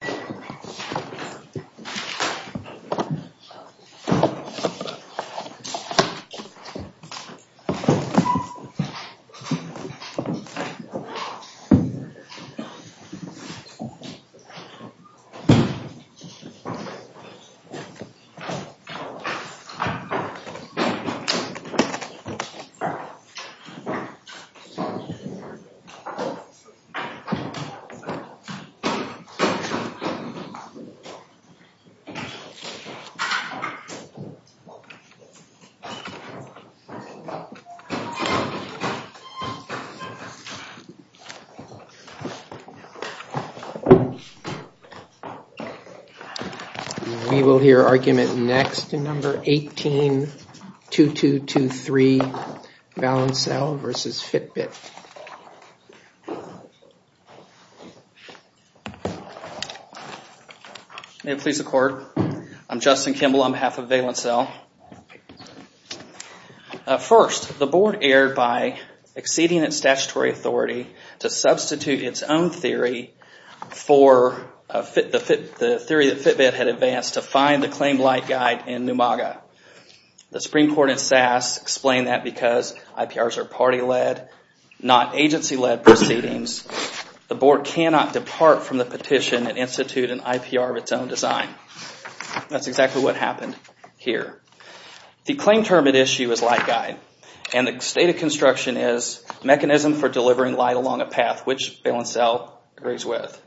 Fanshawe College Level 1, www.fanshawec.ca We will hear argument next in No. 18-2223, Valencell vs. Fitbit. May it please the court, I'm Justin Kimball on behalf of Valencell. First, the board erred by exceeding its statutory authority to substitute its own theory for the theory that Fitbit had advanced to find the claim light guide in Numaga. The Supreme Court in SAS explained that because IPRs are party-led, not agency-led proceedings, the board cannot depart from the petition and institute an IPR of its own design. That's exactly what happened here. The claim term at issue is light guide, and the state of construction is mechanism for delivering light along a path, which Valencell agrees with.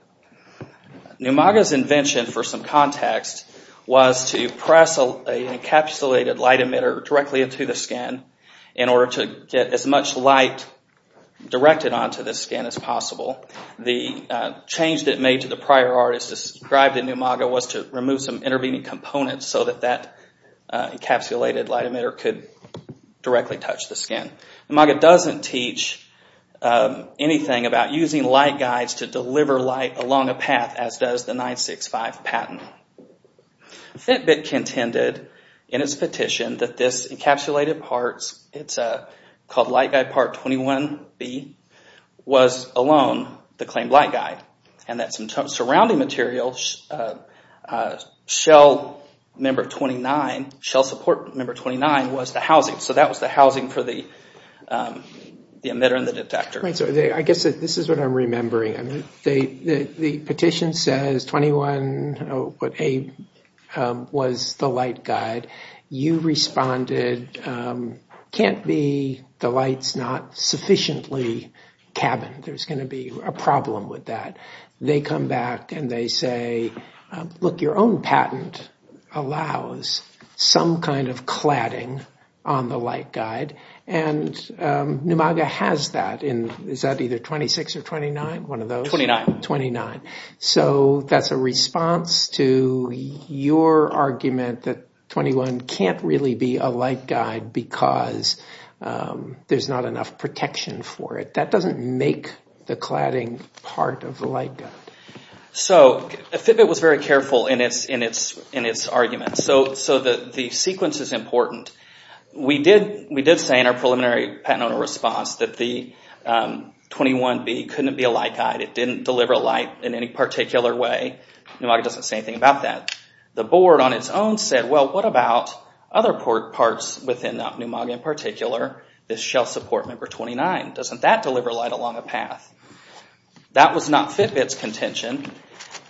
Numaga's invention, for some context, was to press an encapsulated light emitter directly into the skin in order to get as much light directed onto the skin as possible. The change that made to the prior artists described in Numaga was to remove some intervening components so that that encapsulated light emitter could directly touch the skin. Numaga doesn't teach anything about using light guides to deliver light along a path as does the 965 patent. Fitbit contended in its petition that this encapsulated part, it's called light guide part 21B, was alone the claimed light guide. That surrounding material, shell support number 29, was the housing. That was the housing for the emitter and the detector. I guess this is what I'm remembering. The petition says 21A was the light guide. You responded, can't be the lights not sufficiently cabined. There's going to be a problem with that. They come back and they say, look, your own patent allows some kind of cladding on the light guide. And Numaga has that in, is that either 26 or 29, one of those? 29. 29. So that's a response to your argument that 21 can't really be a light guide because there's not enough protection for it. That doesn't make the cladding part of the light guide. So Fitbit was very careful in its argument. So the sequence is important. We did say in our preliminary patent owner response that the 21B couldn't be a light guide. It didn't deliver light in any particular way. Numaga doesn't say anything about that. The board on its own said, well, what about other parts within Numaga in particular, this shell support number 29? Doesn't that deliver light along a path? That was not Fitbit's contention.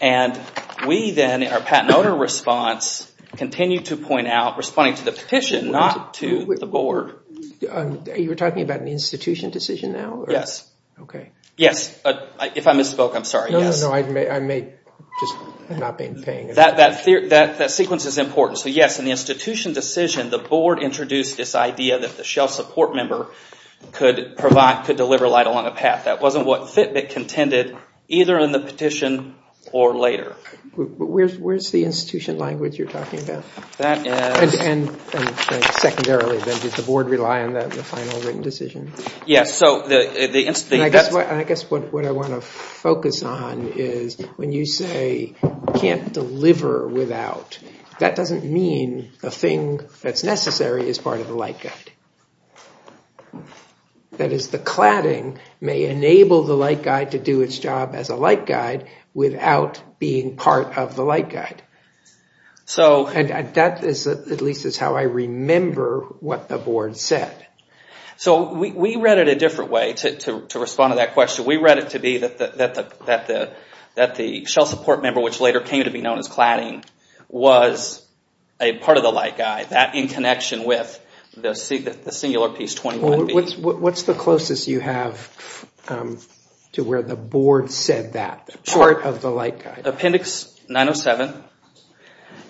And we then, in our patent owner response, continued to point out, responding to the petition, not to the board. You were talking about an institution decision now? Yes. Okay. Yes. If I misspoke, I'm sorry. No, no, no. I may have just not been paying attention. That sequence is important. So yes, in the institution decision, the board introduced this idea that the shell support member could deliver light along a path. That wasn't what Fitbit contended, either in the petition or later. Where's the institution language you're talking about? That is— And secondarily, then, did the board rely on the final written decision? Yes, so the— And I guess what I want to focus on is when you say can't deliver without, that doesn't mean the thing that's necessary is part of the light guide. That is, the cladding may enable the light guide to do its job as a light guide without being part of the light guide. So— And that is at least how I remember what the board said. So we read it a different way to respond to that question. We read it to be that the shell support member, which later came to be known as cladding, was a part of the light guide. That in connection with the singular piece 21B. What's the closest you have to where the board said that? Sure. Part of the light guide. Appendix 907.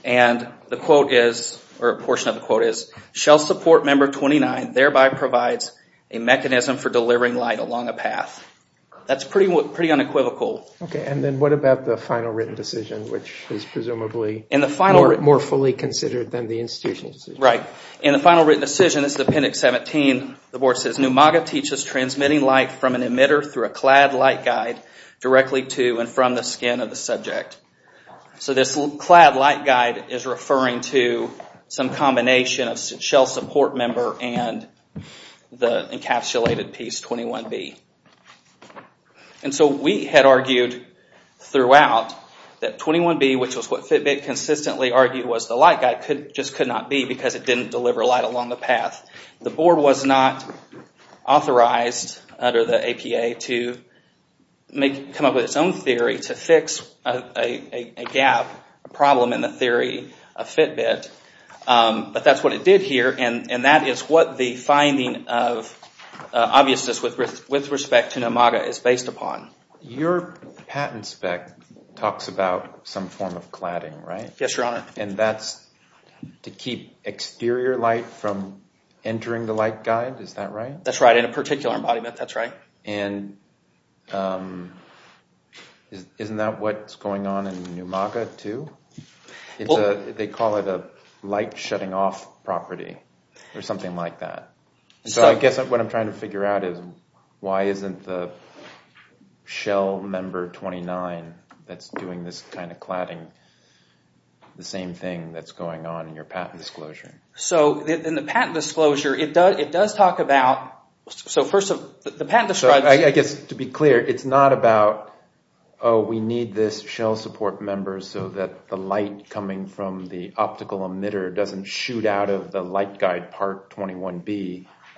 And the quote is, or a portion of the quote is, Shell support member 29 thereby provides a mechanism for delivering light along a path. That's pretty unequivocal. Okay, and then what about the final written decision, which is presumably more fully considered than the institutional decision? Right. In the final written decision, it's Appendix 17, the board says, Numaga teaches transmitting light from an emitter through a clad light guide directly to and from the skin of the subject. So this clad light guide is referring to some combination of shell support member and the encapsulated piece 21B. And so we had argued throughout that 21B, which was what Fitbit consistently argued was the light guide, just could not be because it didn't deliver light along the path. The board was not authorized under the APA to come up with its own theory to fix a gap, a problem in the theory of Fitbit. But that's what it did here, and that is what the finding of obviousness with respect to Numaga is based upon. Your patent spec talks about some form of cladding, right? Yes, Your Honor. And that's to keep exterior light from entering the light guide, is that right? That's right, in a particular embodiment, that's right. And isn't that what's going on in Numaga too? They call it a light shutting off property or something like that. So I guess what I'm trying to figure out is why isn't the shell member 29 that's doing this kind of cladding the same thing that's going on in your patent disclosure? So in the patent disclosure, it does talk about...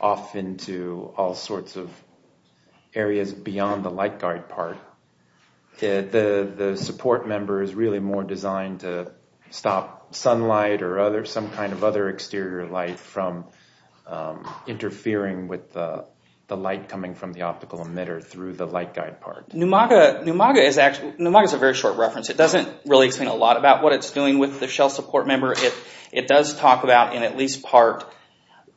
...off into all sorts of areas beyond the light guide part. The support member is really more designed to stop sunlight or some kind of other exterior light from interfering with the light coming from the optical emitter through the light guide part. Numaga is a very short reference. It doesn't really explain a lot about what it's doing with the shell support member. It does talk about, in at least part,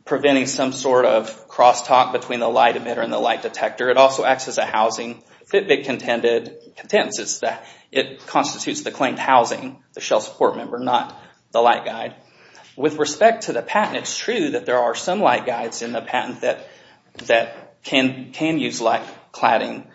preventing some sort of crosstalk between the light emitter and the light detector. It also acts as a housing. Fitbit contends that it constitutes the claimed housing, the shell support member, not the light guide. With respect to the patent, it's true that there are some light guides in the patent that can use light cladding.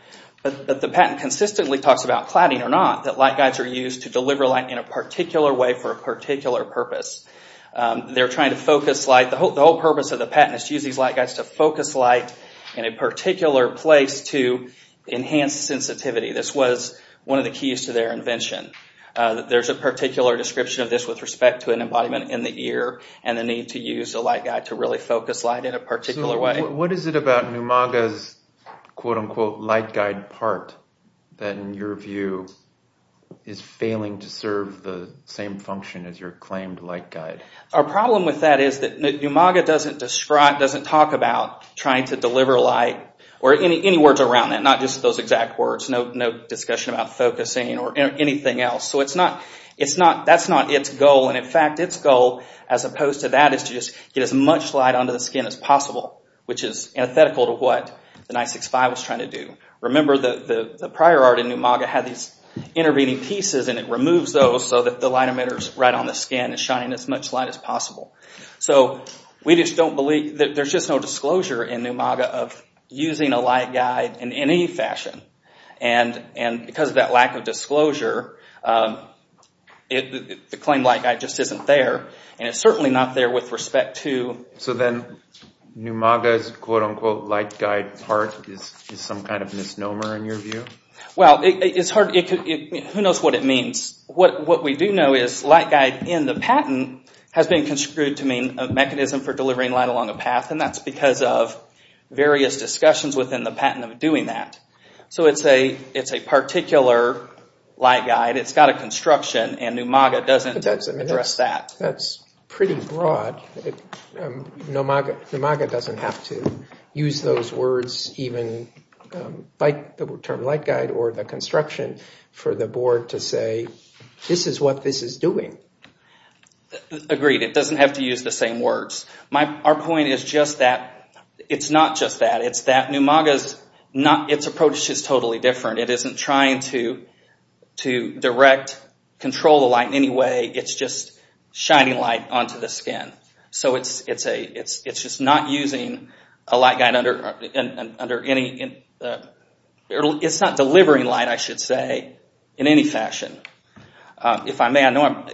But the patent consistently talks about, cladding or not, that light guides are used to deliver light in a particular way for a particular purpose. They're trying to focus light. The whole purpose of the patent is to use these light guides to focus light in a particular place to enhance sensitivity. This was one of the keys to their invention. There's a particular description of this with respect to an embodiment in the ear and the need to use a light guide to really focus light in a particular way. What is it about Numaga's quote-unquote light guide part that, in your view, is failing to serve the same function as your claimed light guide? Our problem with that is that Numaga doesn't talk about trying to deliver light or any words around that, not just those exact words. No discussion about focusing or anything else. That's not its goal. In fact, its goal, as opposed to that, is to get as much light onto the skin as possible, which is antithetical to what the 965 was trying to do. Remember, the prior art in Numaga had these intervening pieces, and it removes those so that the light emitter is right on the skin and shining as much light as possible. There's just no disclosure in Numaga of using a light guide in any fashion. Because of that lack of disclosure, the claimed light guide just isn't there, and it's certainly not there with respect to… So then Numaga's quote-unquote light guide part is some kind of misnomer, in your view? Well, it's hard. Who knows what it means? What we do know is light guide in the patent has been construed to mean a mechanism for delivering light along a path, and that's because of various discussions within the patent of doing that. So it's a particular light guide. It's got a construction, and Numaga doesn't address that. That's pretty broad. Numaga doesn't have to use those words, even the term light guide or the construction, for the board to say, this is what this is doing. Agreed. It doesn't have to use the same words. Our point is just that it's not just that. It's that Numaga's approach is totally different. It isn't trying to direct, control the light in any way. It's just shining light onto the skin. So it's just not using a light guide under any… It's not delivering light, I should say, in any fashion. If I may,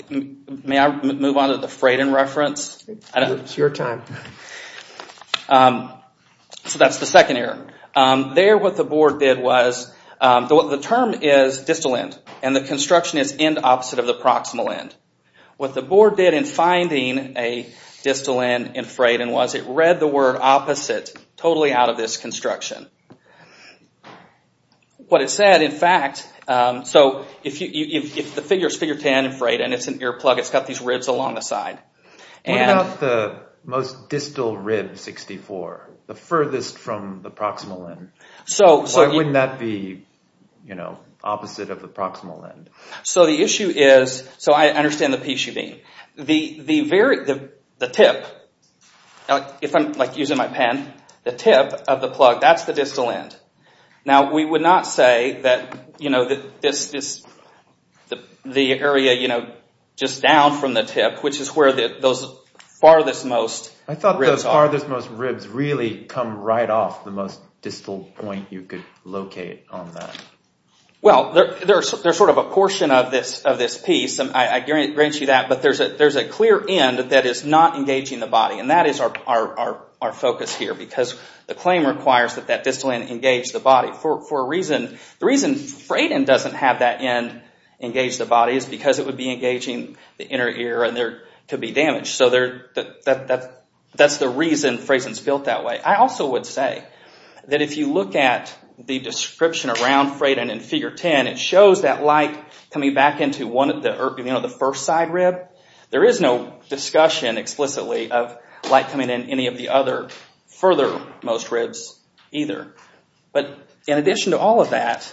may I move on to the Freighton reference? It's your time. So that's the second error. There what the board did was, the term is distal end, and the construction is end opposite of the proximal end. What the board did in finding a distal end in Freighton was it read the word opposite totally out of this construction. What it said, in fact, so if the figure is figure 10 in Freighton and it's an air plug, it's got these ribs along the side. What about the most distal rib, 64, the furthest from the proximal end? Why wouldn't that be opposite of the proximal end? So the issue is, so I understand the piece you mean. The tip, if I'm using my pen, the tip of the plug, that's the distal end. Now we would not say that the area just down from the tip, which is where those farthest most ribs are. I thought those farthest most ribs really come right off the most distal point you could locate on that. Well, there's sort of a portion of this piece, and I grant you that, but there's a clear end that is not engaging the body. That is our focus here, because the claim requires that that distal end engage the body. The reason Freighton doesn't have that end engage the body is because it would be engaging the inner ear and there could be damage. So that's the reason Freighton's built that way. I also would say that if you look at the description around Freighton in Figure 10, it shows that light coming back into the first side rib. There is no discussion explicitly of light coming in any of the other further most ribs either. But in addition to all of that,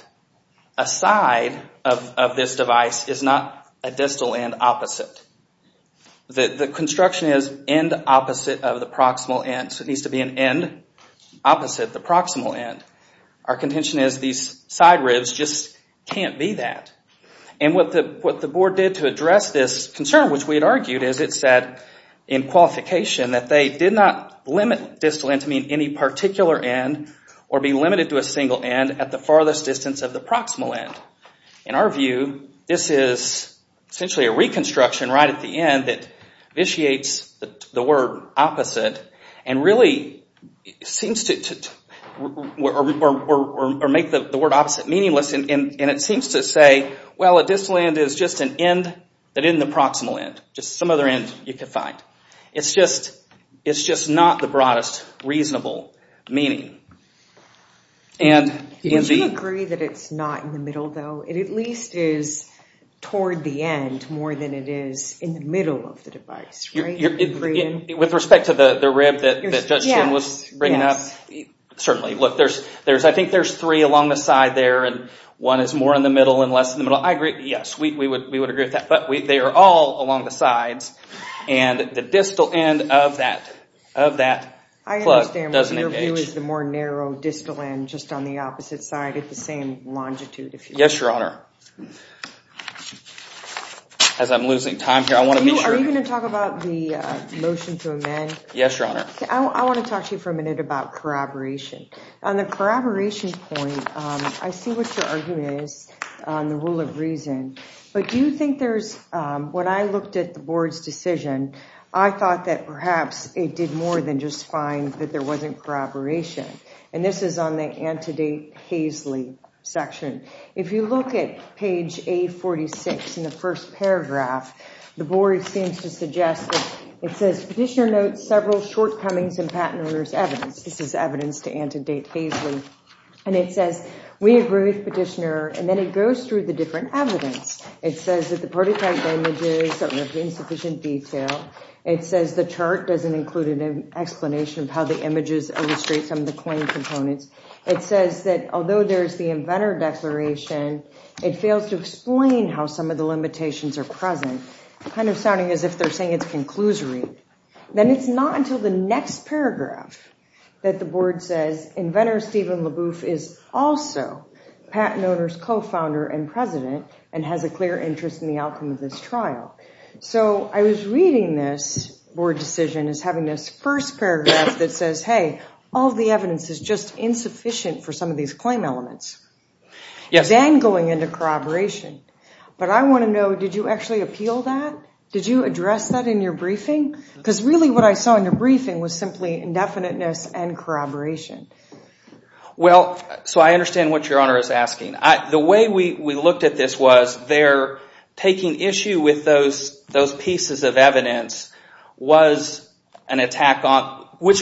a side of this device is not a distal end opposite. The construction is end opposite of the proximal end, so it needs to be an end opposite the proximal end. Our contention is these side ribs just can't be that. What the board did to address this concern, which we had argued, is it said in qualification that they did not limit distal end to mean any particular end, or be limited to a single end at the farthest distance of the proximal end. In our view, this is essentially a reconstruction right at the end that vitiates the word opposite and really seems to make the word opposite meaningless. It seems to say, well, a distal end is just an end that isn't the proximal end, just some other end you can find. It's just not the broadest reasonable meaning. Would you agree that it's not in the middle, though? It at least is toward the end more than it is in the middle of the device, right? With respect to the rib that Judge Chen was bringing up, certainly. Look, I think there's three along the side there, and one is more in the middle and less in the middle. I agree. Yes, we would agree with that. But they are all along the sides, and the distal end of that plug doesn't engage. I understand, but your view is the more narrow distal end just on the opposite side at the same longitude, if you will. Yes, Your Honor. As I'm losing time here, I want to be sure. Are you going to talk about the motion to amend? Yes, Your Honor. I want to talk to you for a minute about corroboration. On the corroboration point, I see what your argument is on the rule of reason, but when I looked at the Board's decision, I thought that perhaps it did more than just find that there wasn't corroboration, and this is on the antedate Haisley section. If you look at page 846 in the first paragraph, the Board seems to suggest that it says, Petitioner notes several shortcomings in patent owner's evidence. This is evidence to antedate Haisley, and it says, We agree with Petitioner, and then it goes through the different evidence. It says that the prototype images are of insufficient detail. It says the chart doesn't include an explanation of how the images illustrate some of the claim components. It says that although there is the inventor declaration, it fails to explain how some of the limitations are present, kind of sounding as if they're saying it's conclusory. Then it's not until the next paragraph that the Board says, Inventor Steven LaBouffe is also patent owner's co-founder and president, and has a clear interest in the outcome of this trial. So I was reading this Board decision as having this first paragraph that says, Hey, all the evidence is just insufficient for some of these claim elements, and going into corroboration, but I want to know, did you actually appeal that? Did you address that in your briefing? Because really what I saw in your briefing was simply indefiniteness and corroboration. Well, so I understand what Your Honor is asking. The way we looked at this was they're taking issue with those pieces of evidence, which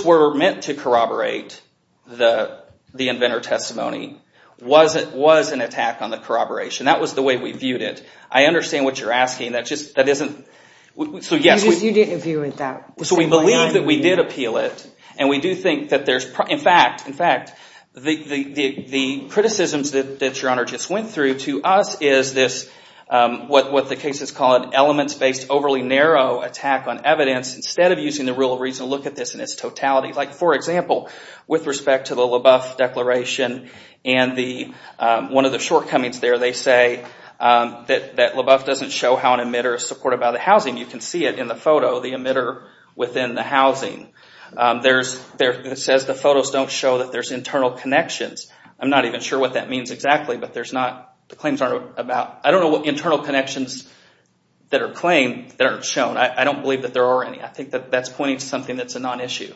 were meant to corroborate the inventor testimony, was an attack on the corroboration. That was the way we viewed it. I understand what you're asking. You didn't view it that way. So we believe that we did appeal it. In fact, the criticisms that Your Honor just went through to us is this, what the cases call an elements-based overly narrow attack on evidence, instead of using the rule of reason to look at this in its totality. For example, with respect to the LaBouffe Declaration, and one of the shortcomings there, they say that LaBouffe doesn't show how an emitter is supported by the housing. You can see it in the photo, the emitter within the housing. It says the photos don't show that there's internal connections. I'm not even sure what that means exactly, but there's not, the claims aren't about, I don't know what internal connections that are claimed that aren't shown. I don't believe that there are any. I think that that's pointing to something that's a non-issue.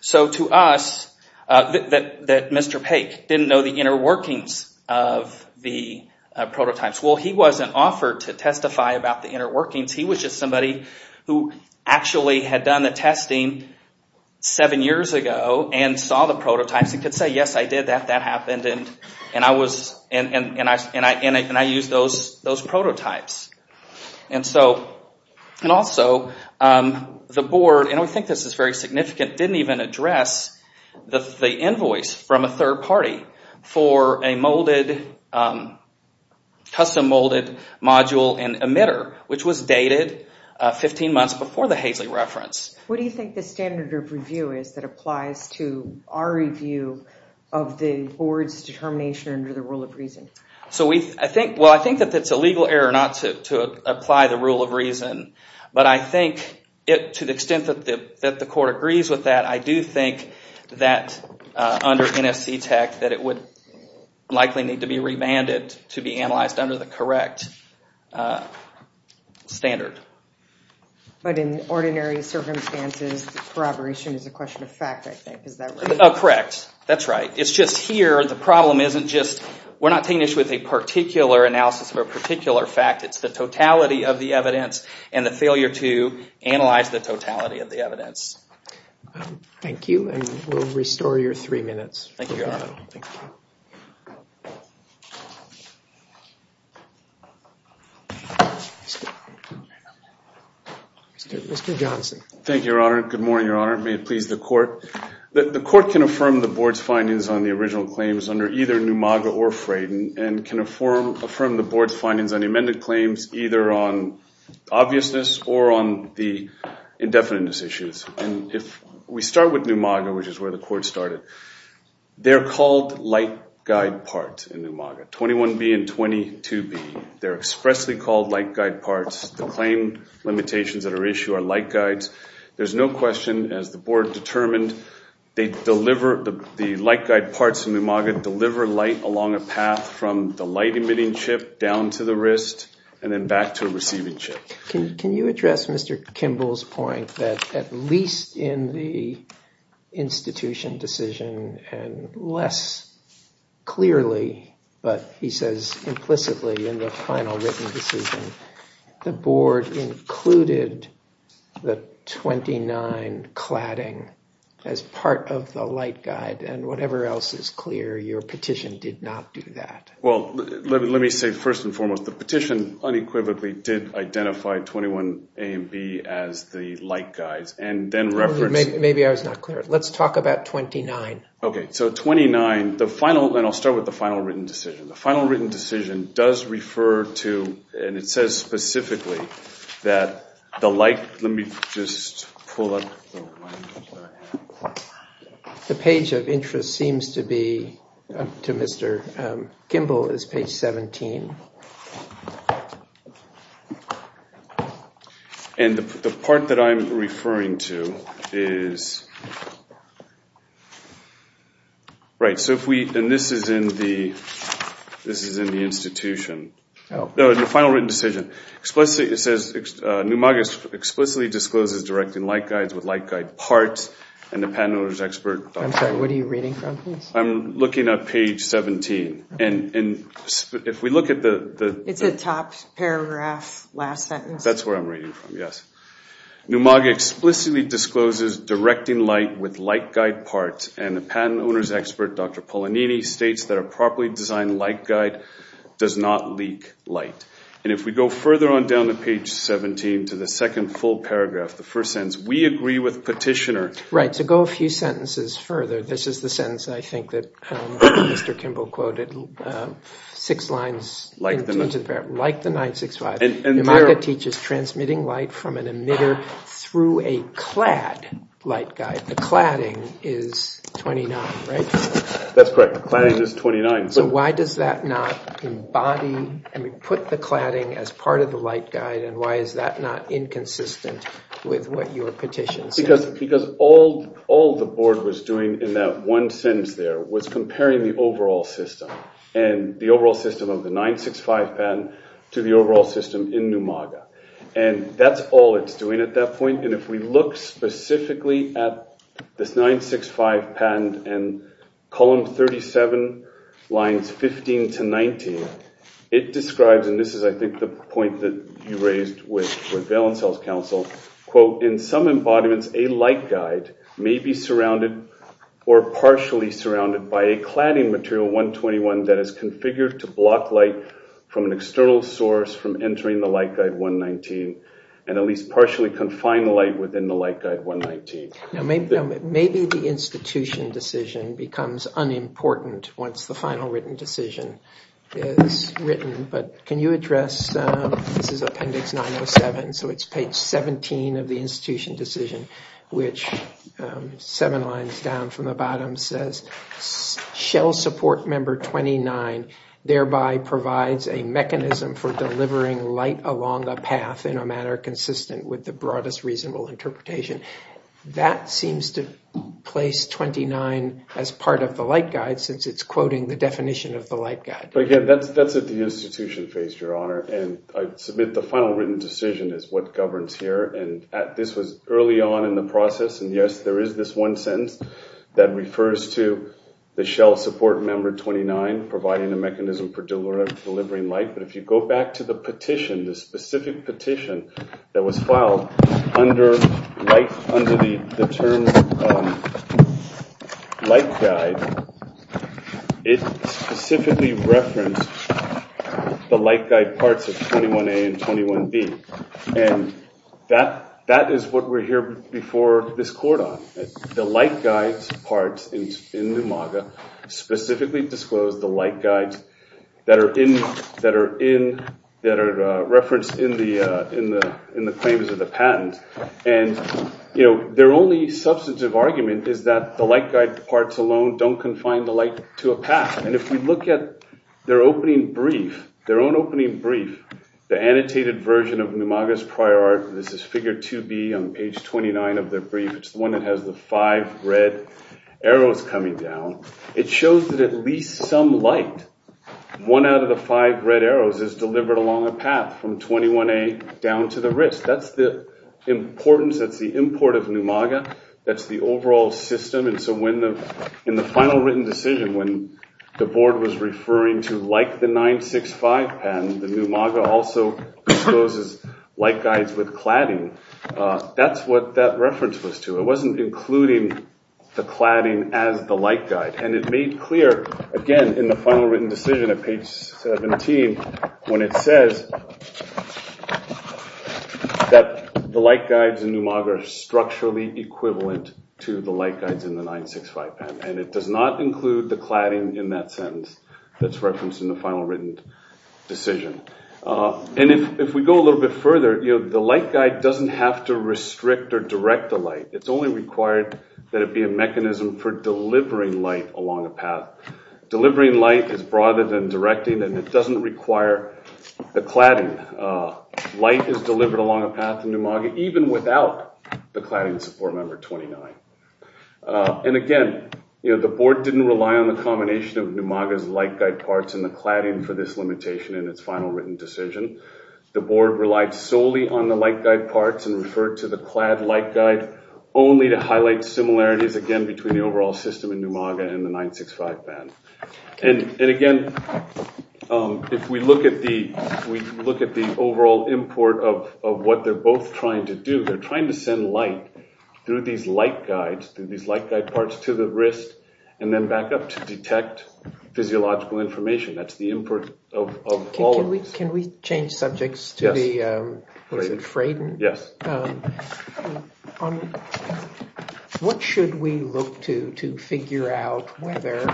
So to us, that Mr. Paik didn't know the inner workings of the prototypes. Well, he wasn't offered to testify about the inner workings. He was just somebody who actually had done the testing seven years ago and saw the prototypes and could say, yes, I did that, that happened, and I used those prototypes. And also, the board, and I think this is very significant, didn't even address the invoice from a third party for a molded, custom molded module and emitter, which was dated 15 months before the Haseley reference. What do you think the standard of review is that applies to our review of the board's determination under the rule of reason? Well, I think that that's a legal error not to apply the rule of reason, but I think to the extent that the court agrees with that, I do think that under NFC tech that it would likely need to be remanded to be analyzed under the correct standard. But in ordinary circumstances, corroboration is a question of fact, I think. Is that right? Correct. That's right. It's just here, the problem isn't just, we're not taking issue with a particular analysis of a particular fact, it's the totality of the evidence and the failure to analyze the totality of the evidence. Thank you, and we'll restore your three minutes. Thank you, Your Honor. Mr. Johnson. Thank you, Your Honor. Good morning, Your Honor. May it please the court. The court can affirm the board's findings on the original claims under either Numaga or Frayden and can affirm the board's findings on the amended claims either on obviousness or on the indefiniteness issues. And if we start with Numaga, which is where the court started, they're called light guide part in Numaga, 21B and 22B. They're expressly called light guide parts. The claim limitations that are issued are light guides. There's no question, as the board determined, the light guide parts in Numaga deliver light along a path from the light emitting chip down to the wrist and then back to a receiving chip. Can you address Mr. Kimball's point that at least in the institution decision and less clearly, but he says implicitly in the final written decision, the board included the 29 cladding as part of the light guide and whatever else is clear, your petition did not do that. Well, let me say first and foremost, the petition unequivocally did identify 21A and B as the light guides and then referenced. Maybe I was not clear. Let's talk about 29. Okay. So 29, the final, and I'll start with the final written decision. The final written decision does refer to, and it says specifically, that the light, let me just pull up. The page of interest seems to be, to Mr. Kimball, is page 17. And the part that I'm referring to is, right, so if we, and this is in the institution. No, the final written decision. It says Numaga explicitly discloses directing light guides with light guide parts and the patent owner's expert. I'm sorry, what are you reading from? I'm looking at page 17. And if we look at the... It's the top paragraph, last sentence. That's where I'm reading from, yes. Numaga explicitly discloses directing light with light guide parts and the patent owner's expert, Dr. Polonini, states that a properly designed light guide does not leak light. And if we go further on down to page 17 to the second full paragraph, the first sentence, we agree with petitioner. Right, so go a few sentences further. This is the sentence, I think, that Mr. Kimball quoted, six lines... Like the 965. Numaga teaches transmitting light from an emitter through a clad light guide. The cladding is 29, right? That's correct. The cladding is 29. So why does that not embody... I mean put the cladding as part of the light guide and why is that not inconsistent with what your petition says? Because all the board was doing in that one sentence there was comparing the overall system and the overall system of the 965 patent to the overall system in Numaga. And that's all it's doing at that point. And if we look specifically at this 965 patent and column 37, lines 15 to 19, it describes, and this is I think the point that you raised with Valence Health Council, quote, in some embodiments a light guide may be surrounded or partially surrounded by a cladding material 121 that is configured to block light from an external source from entering the light guide 119 and at least partially confine the light within the light guide 119. Maybe the institution decision becomes unimportant once the final written decision is written. But can you address, this is appendix 907, so it's page 17 of the institution decision, which seven lines down from the bottom says, shell support member 29 thereby provides a mechanism for delivering light along a path in a manner consistent with the broadest reasonable interpretation. That seems to place 29 as part of the light guide since it's quoting the definition of the light guide. But again, that's at the institution phase, Your Honor. And I submit the final written decision is what governs here. And this was early on in the process. And yes, there is this one sentence that refers to the shell support member 29 providing a mechanism for delivering light. But if you go back to the petition, the specific petition that was filed under the term light guide, it specifically referenced the light guide parts of 21A and 21B. And that is what we're here before this court on. The light guide parts in the MAGA specifically disclose the light guides that are referenced in the claims of the patent. And their only substantive argument is that the light guide parts alone don't confine the light to a path. And if you look at their opening brief, their own opening brief, the annotated version of the MAGA's prior art, this is figure 2B on page 29 of their brief. It's the one that has the five red arrows coming down. It shows that at least some light, one out of the five red arrows, is delivered along a path from 21A down to the wrist. That's the importance. That's the import of new MAGA. That's the overall system. And so in the final written decision, when the board was referring to like the 965 patent, the new MAGA also discloses light guides with cladding. That's what that reference was to. It wasn't including the cladding as the light guide. And it made clear, again, in the final written decision at page 17, when it says that the light guides in new MAGA are structurally equivalent to the light guides in the 965 patent. And it does not include the cladding in that sentence that's referenced in the final written decision. And if we go a little bit further, the light guide doesn't have to restrict or direct the light. It's only required that it be a mechanism for delivering light along a path. Delivering light is broader than directing, and it doesn't require the cladding. Light is delivered along a path in new MAGA, even without the cladding support number 29. And, again, you know, the board didn't rely on the combination of new MAGA's light guide parts and the cladding for this limitation in its final written decision. The board relied solely on the light guide parts and referred to the clad light guide only to highlight similarities, again, between the overall system in new MAGA and the 965 patent. And, again, if we look at the overall import of what they're both trying to do, they're trying to send light through these light guides, through these light guide parts to the wrist and then back up to detect physiological information. That's the import of all of these. Can we change subjects to the Fraden? Yes. What should we look to to figure out whether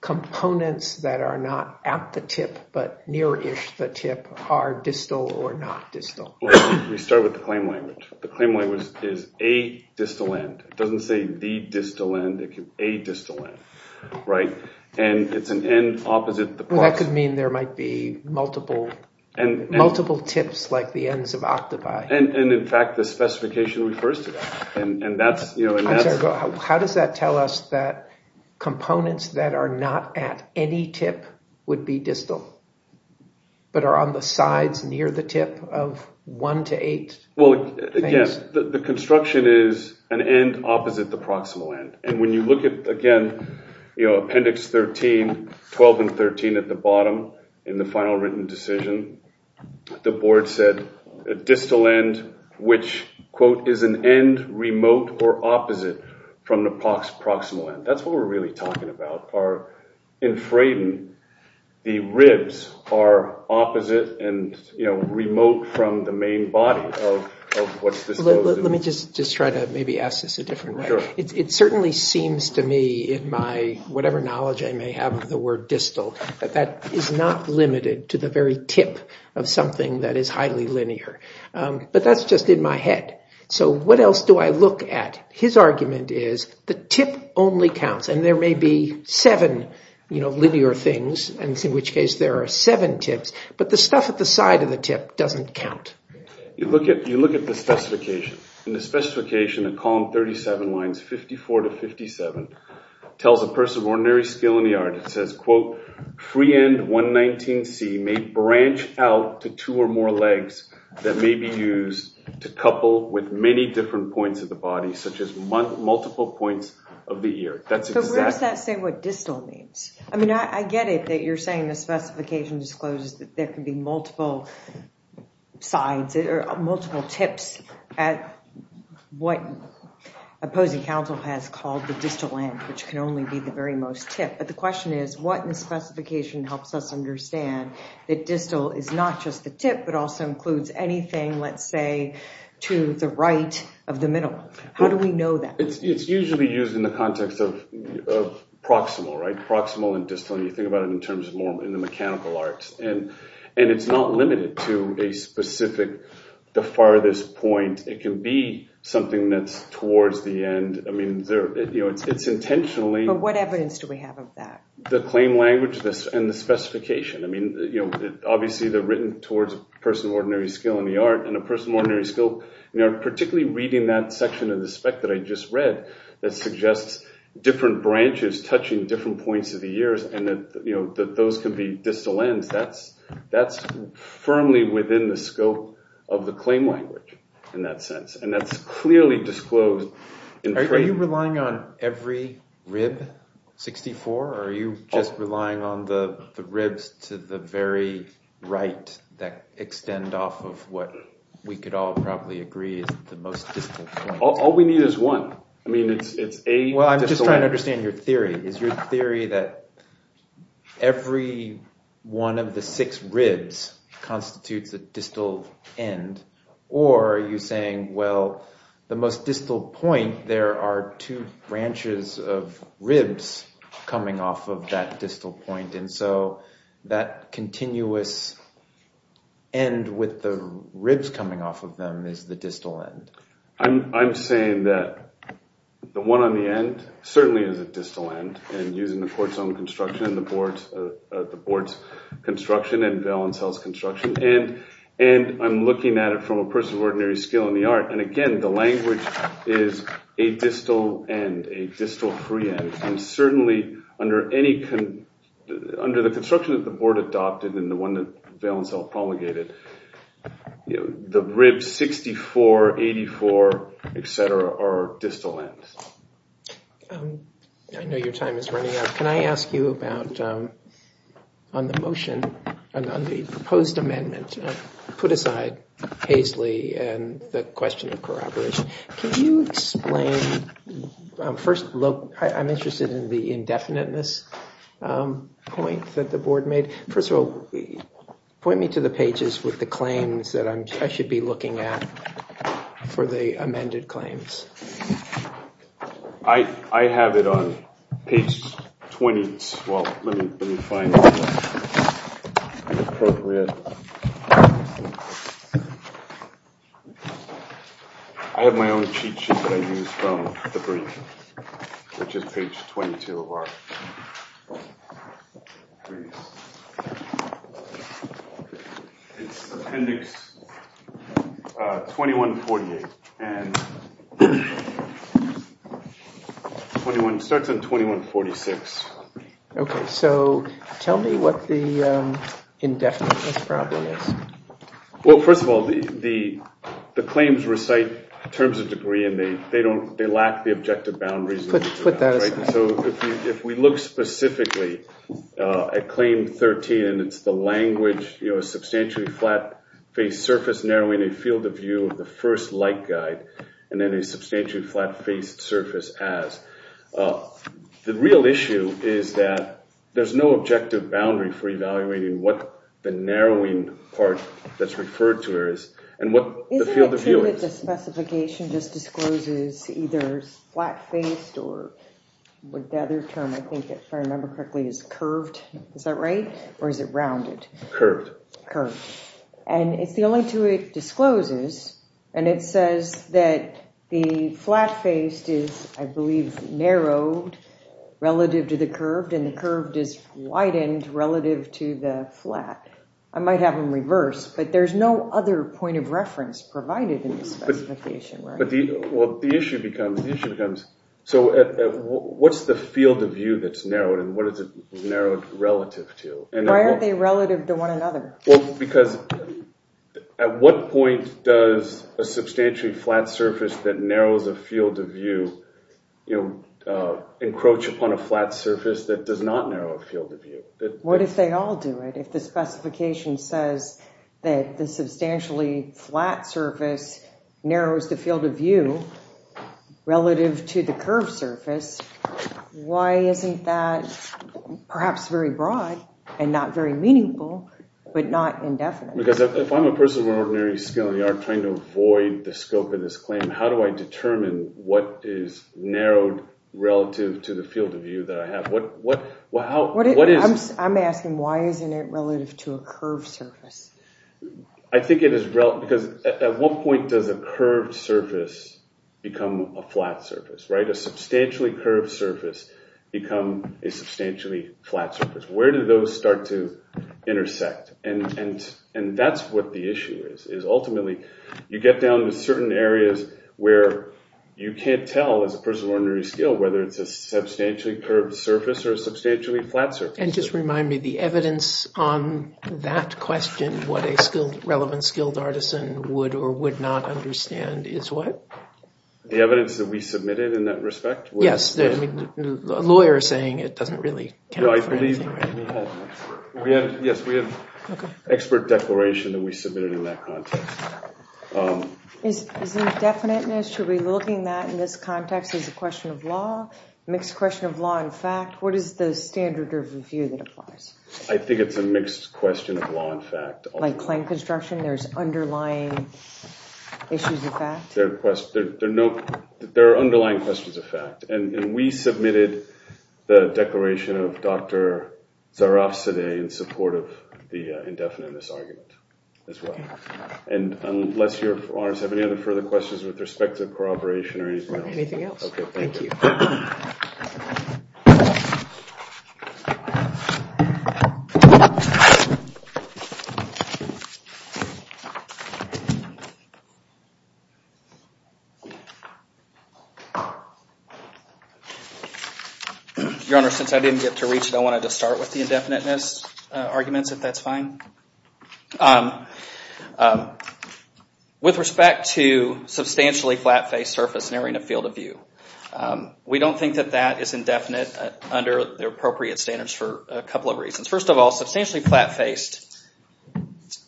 components that are not at the tip but nearish the tip are distal or not distal? We start with the claim language. The claim language is a distal end. It doesn't say the distal end. It's a distal end, right? And it's an end opposite the plot. Well, that could mean there might be multiple tips like the ends of octopi. And, in fact, the specification refers to that. I'm sorry. How does that tell us that components that are not at any tip would be distal but are on the sides near the tip of one to eight things? Well, again, the construction is an end opposite the proximal end. And when you look at, again, Appendix 13, 12 and 13 at the bottom in the final written decision, the board said a distal end, which, quote, is an end remote or opposite from the proximal end. That's what we're really talking about. In Fraden, the ribs are opposite and remote from the main body of what's disclosed. Let me just try to maybe ask this a different way. It certainly seems to me in my whatever knowledge I may have of the word distal that that is not limited to the very tip of something that is highly linear. But that's just in my head. So what else do I look at? His argument is the tip only counts. And there may be seven linear things, in which case there are seven tips. But the stuff at the side of the tip doesn't count. You look at the specification. The specification in column 37, lines 54 to 57, tells a person of ordinary skill in the art. It says, quote, free end 119C may branch out to two or more legs that may be used to couple with many different points of the body, such as multiple points of the ear. So where does that say what distal means? I mean, I get it that you're saying the specification discloses that there can be multiple sides or multiple tips at what opposing counsel has called the distal end, which can only be the very most tip. But the question is what in the specification helps us understand that distal is not just the tip but also includes anything, let's say, to the right of the middle? How do we know that? It's usually used in the context of proximal, right, proximal and distal. You think about it in terms of more in the mechanical arts. And it's not limited to a specific, the farthest point. It can be something that's towards the end. I mean, it's intentionally. But what evidence do we have of that? The claim language and the specification. I mean, obviously they're written towards a person of ordinary skill in the art, and a person of ordinary skill, particularly reading that section of the spec that I just read that suggests different branches touching different points of the ears and that those could be distal ends. That's firmly within the scope of the claim language in that sense. And that's clearly disclosed. Are you relying on every rib, 64, or are you just relying on the ribs to the very right that extend off of what we could all probably agree is the most distal point? All we need is one. I mean, it's a distal end. Well, I'm just trying to understand your theory. Is your theory that every one of the six ribs constitutes a distal end, or are you saying, well, the most distal point, there are two branches of ribs coming off of that distal point, and so that continuous end with the ribs coming off of them is the distal end? I'm saying that the one on the end certainly is a distal end, and using the court's own construction and the board's construction and Valencel's construction, and I'm looking at it from a person of ordinary skill in the art, and again, the language is a distal end, a distal free end. And certainly under the construction that the board adopted and the one that Valencel promulgated, the ribs 64, 84, et cetera, are distal ends. I know your time is running out. Can I ask you about on the motion, on the proposed amendment, put aside Paisley and the question of corroboration, can you explain first, I'm interested in the indefiniteness point that the board made. First of all, point me to the pages with the claims that I should be looking at for the amended claims. I have it on page 20. Well, let me find the appropriate. I have my own cheat sheet that I used from the brief, which is page 22 of our brief. It's appendix 2148 and starts at 2146. Okay, so tell me what the indefiniteness problem is. Well, first of all, the claims recite terms of degree and they lack the objective boundaries. Put that aside. So if we look specifically at claim 13, and it's the language, you know, a substantially flat-faced surface narrowing a field of view of the first light guide and then a substantially flat-faced surface as. The real issue is that there's no objective boundary for evaluating what the narrowing part that's referred to is and what the field of view is. Isn't it true that the specification just discloses either flat-faced or the other term, if I remember correctly, is curved. Is that right? Or is it rounded? Curved. Curved. And it's the only two it discloses, and it says that the flat-faced is, I believe, narrowed relative to the curved, and the curved is widened relative to the flat. I might have them reversed, but there's no other point of reference provided in the specification. Well, the issue becomes, so what's the field of view that's narrowed and what is it narrowed relative to? Why aren't they relative to one another? Because at what point does a substantially flat surface that narrows a field of view encroach upon a flat surface that does not narrow a field of view? What if they all do it? If the specification says that the substantially flat surface narrows the field of view relative to the curved surface, why isn't that perhaps very broad and not very meaningful, but not indefinite? Because if I'm a person of ordinary skill and you're trying to avoid the scope of this claim, how do I determine what is narrowed relative to the field of view that I have? I'm asking why isn't it relative to a curved surface? I think it is relative because at what point does a curved surface become a flat surface, right? A substantially curved surface become a substantially flat surface. Where do those start to intersect? That's what the issue is, is ultimately you get down to certain areas where you can't tell as a person of ordinary skill whether it's a substantially curved surface or a substantially flat surface. Just remind me, the evidence on that question, what a relevant skilled artisan would or would not understand is what? The evidence that we submitted in that respect? Yes. A lawyer is saying it doesn't really count for anything. Yes, we have an expert declaration that we submitted in that context. Is indefiniteness, should we be looking at that in this context as a question of law, a mixed question of law and fact? What is the standard of review that applies? I think it's a mixed question of law and fact. Like claim construction, there's underlying issues of fact? There are underlying questions of fact, and we submitted the declaration of Dr. Zarafzadeh in support of the indefiniteness argument as well. Unless you, Your Honor, have any other further questions with respect to corroboration or anything else? Anything else. Thank you. Your Honor, since I didn't get to reach it, I wanted to start with the indefiniteness arguments, if that's fine. With respect to substantially flat-faced surface nearing a field of view, we don't think that that is indefinite under the appropriate standards for a couple of reasons. First of all, substantially flat-faced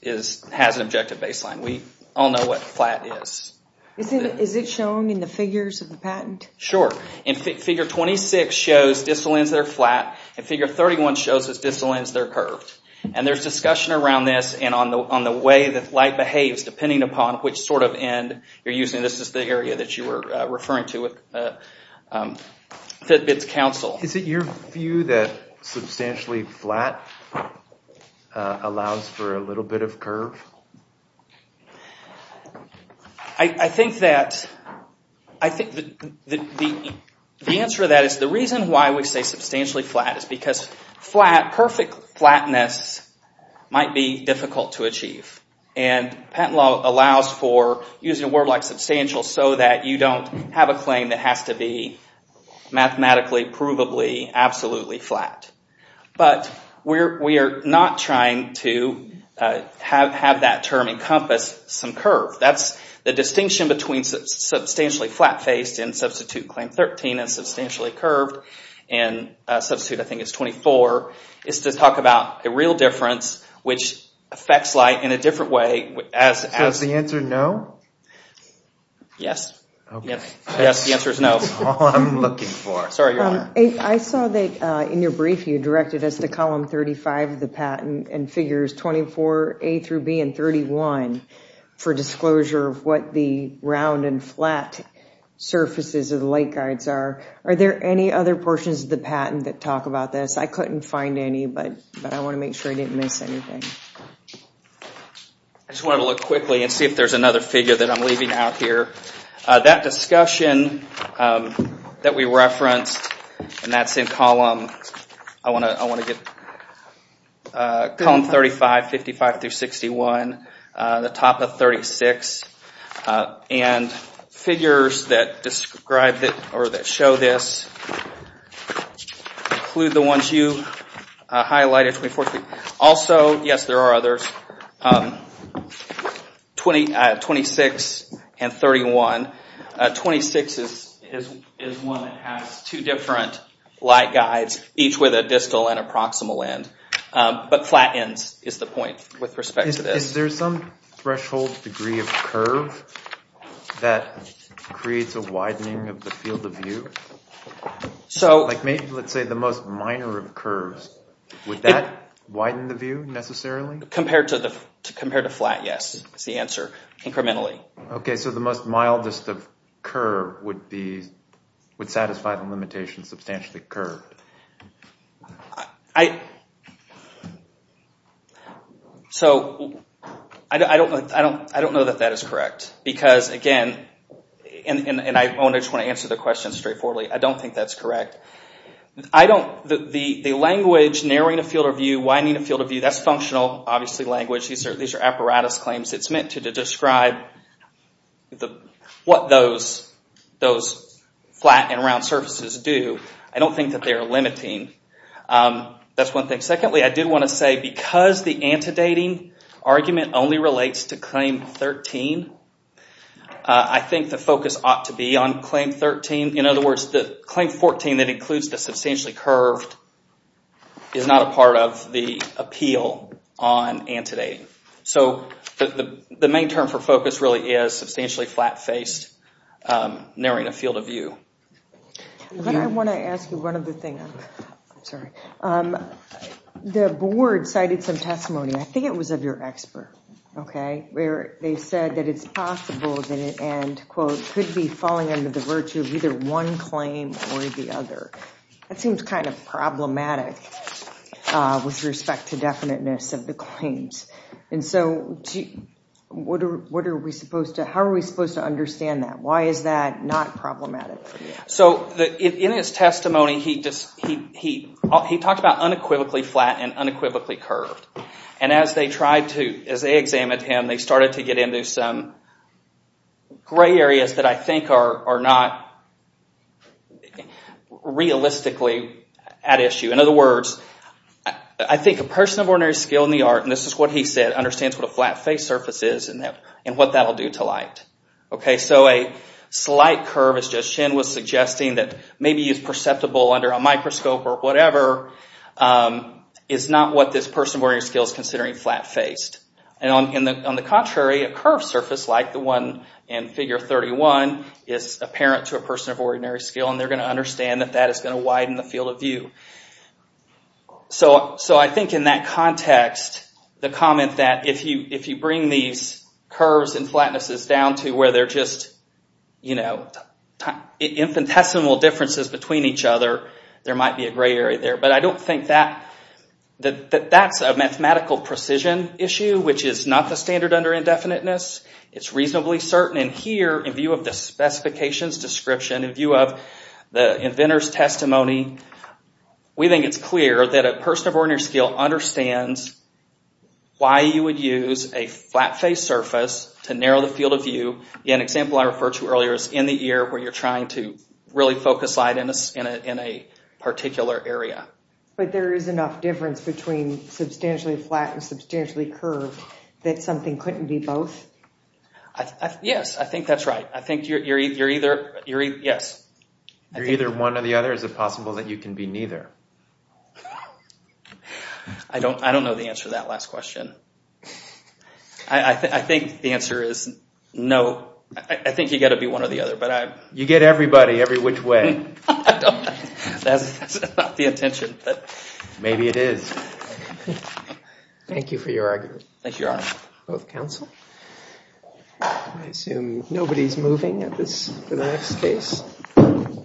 has an objective baseline. We all know what flat is. Is it shown in the figures of the patent? Sure. Figure 26 shows distal ends that are flat, and figure 31 shows that distal ends are curved. There's discussion around this and on the way that light behaves depending upon which sort of end you're using. This is the area that you were referring to with Fitbit's counsel. Is it your view that substantially flat allows for a little bit of curve? I think that the answer to that is the reason why we say substantially flat is because perfect flatness might be difficult to achieve. And patent law allows for using a word like substantial so that you don't have a claim that has to be mathematically provably absolutely flat. But we're not trying to have that term encompass some curve. That's the distinction between substantially flat-faced in Substitute Claim 13 and substantially curved in Substitute, I think it's 24, is to talk about a real difference which affects light in a different way. So is the answer no? Yes. Yes, the answer is no. That's all I'm looking for. I saw that in your brief you directed us to column 35 of the patent and figures 24A through B and 31 for disclosure of what the round and flat surfaces of the light guides are. Are there any other portions of the patent that talk about this? I couldn't find any, but I want to make sure I didn't miss anything. I just wanted to look quickly and see if there's another figure that I'm leaving out here. That discussion that we referenced, and that's in column 35, 55 through 61, the top of 36, and figures that show this include the ones you highlighted. Also, yes, there are others. 26 and 31. 26 is one that has two different light guides, each with a distal and a proximal end. But flat ends is the point with respect to this. Is there some threshold degree of curve that creates a widening of the field of view? Like maybe let's say the most minor of curves, would that widen the view necessarily? Compared to flat, yes, is the answer. Incrementally. So the most mildest of curves would satisfy the limitation of substantially curved. I don't know that that is correct. Because, again, and I just want to answer the question straightforwardly, I don't think that's correct. The language narrowing a field of view, widening a field of view, that's functional, obviously, language. These are apparatus claims. It's meant to describe what those flat and round surfaces do. I don't think that they are limiting. That's one thing. Secondly, I did want to say because the antedating argument only relates to Claim 13, I think the focus ought to be on Claim 13. In other words, the Claim 14 that includes the substantially curved is not a part of the appeal on antedating. So the main term for focus really is substantially flat-faced, narrowing a field of view. I want to ask you one other thing. I'm sorry. The board cited some testimony, I think it was of your expert, where they said that it's possible that it could be falling under the virtue of either one claim or the other. That seems kind of problematic with respect to definiteness of the claims. How are we supposed to understand that? Why is that not problematic? In his testimony, he talked about unequivocally flat and unequivocally curved. As they examined him, they started to get into some gray areas that I think are not realistically at issue. In other words, I think a person of ordinary skill in the art, and this is what he said, understands what a flat-faced surface is and what that will do to light. So a slight curve, as Jess Chen was suggesting, that maybe is perceptible under a microscope or whatever, is not what this person of ordinary skill is considering flat-faced. On the contrary, a curved surface like the one in Figure 31 is apparent to a person of ordinary skill, and they're going to understand that that is going to widen the field of view. So I think in that context, the comment that if you bring these curves and flatnesses down to where they're just infinitesimal differences between each other, there might be a gray area there. But I don't think that that's a mathematical precision issue, which is not the standard under indefiniteness. It's reasonably certain. And here, in view of the specifications description, in view of the inventor's testimony, we think it's clear that a person of ordinary skill understands why you would use a flat-faced surface to narrow the field of view. An example I referred to earlier is in the ear where you're trying to really focus light in a particular area. But there is enough difference between substantially flat and substantially curved that something couldn't be both? Yes, I think that's right. I think you're either... yes. You're either one or the other? Is it possible that you can be neither? I don't know the answer to that last question. I think the answer is no. I think you've got to be one or the other. You get everybody, every which way. That's not the intention, but... Maybe it is. Thank you for your argument. Thank you, Your Honor. Both counsel. I assume nobody's moving at this, for the next case?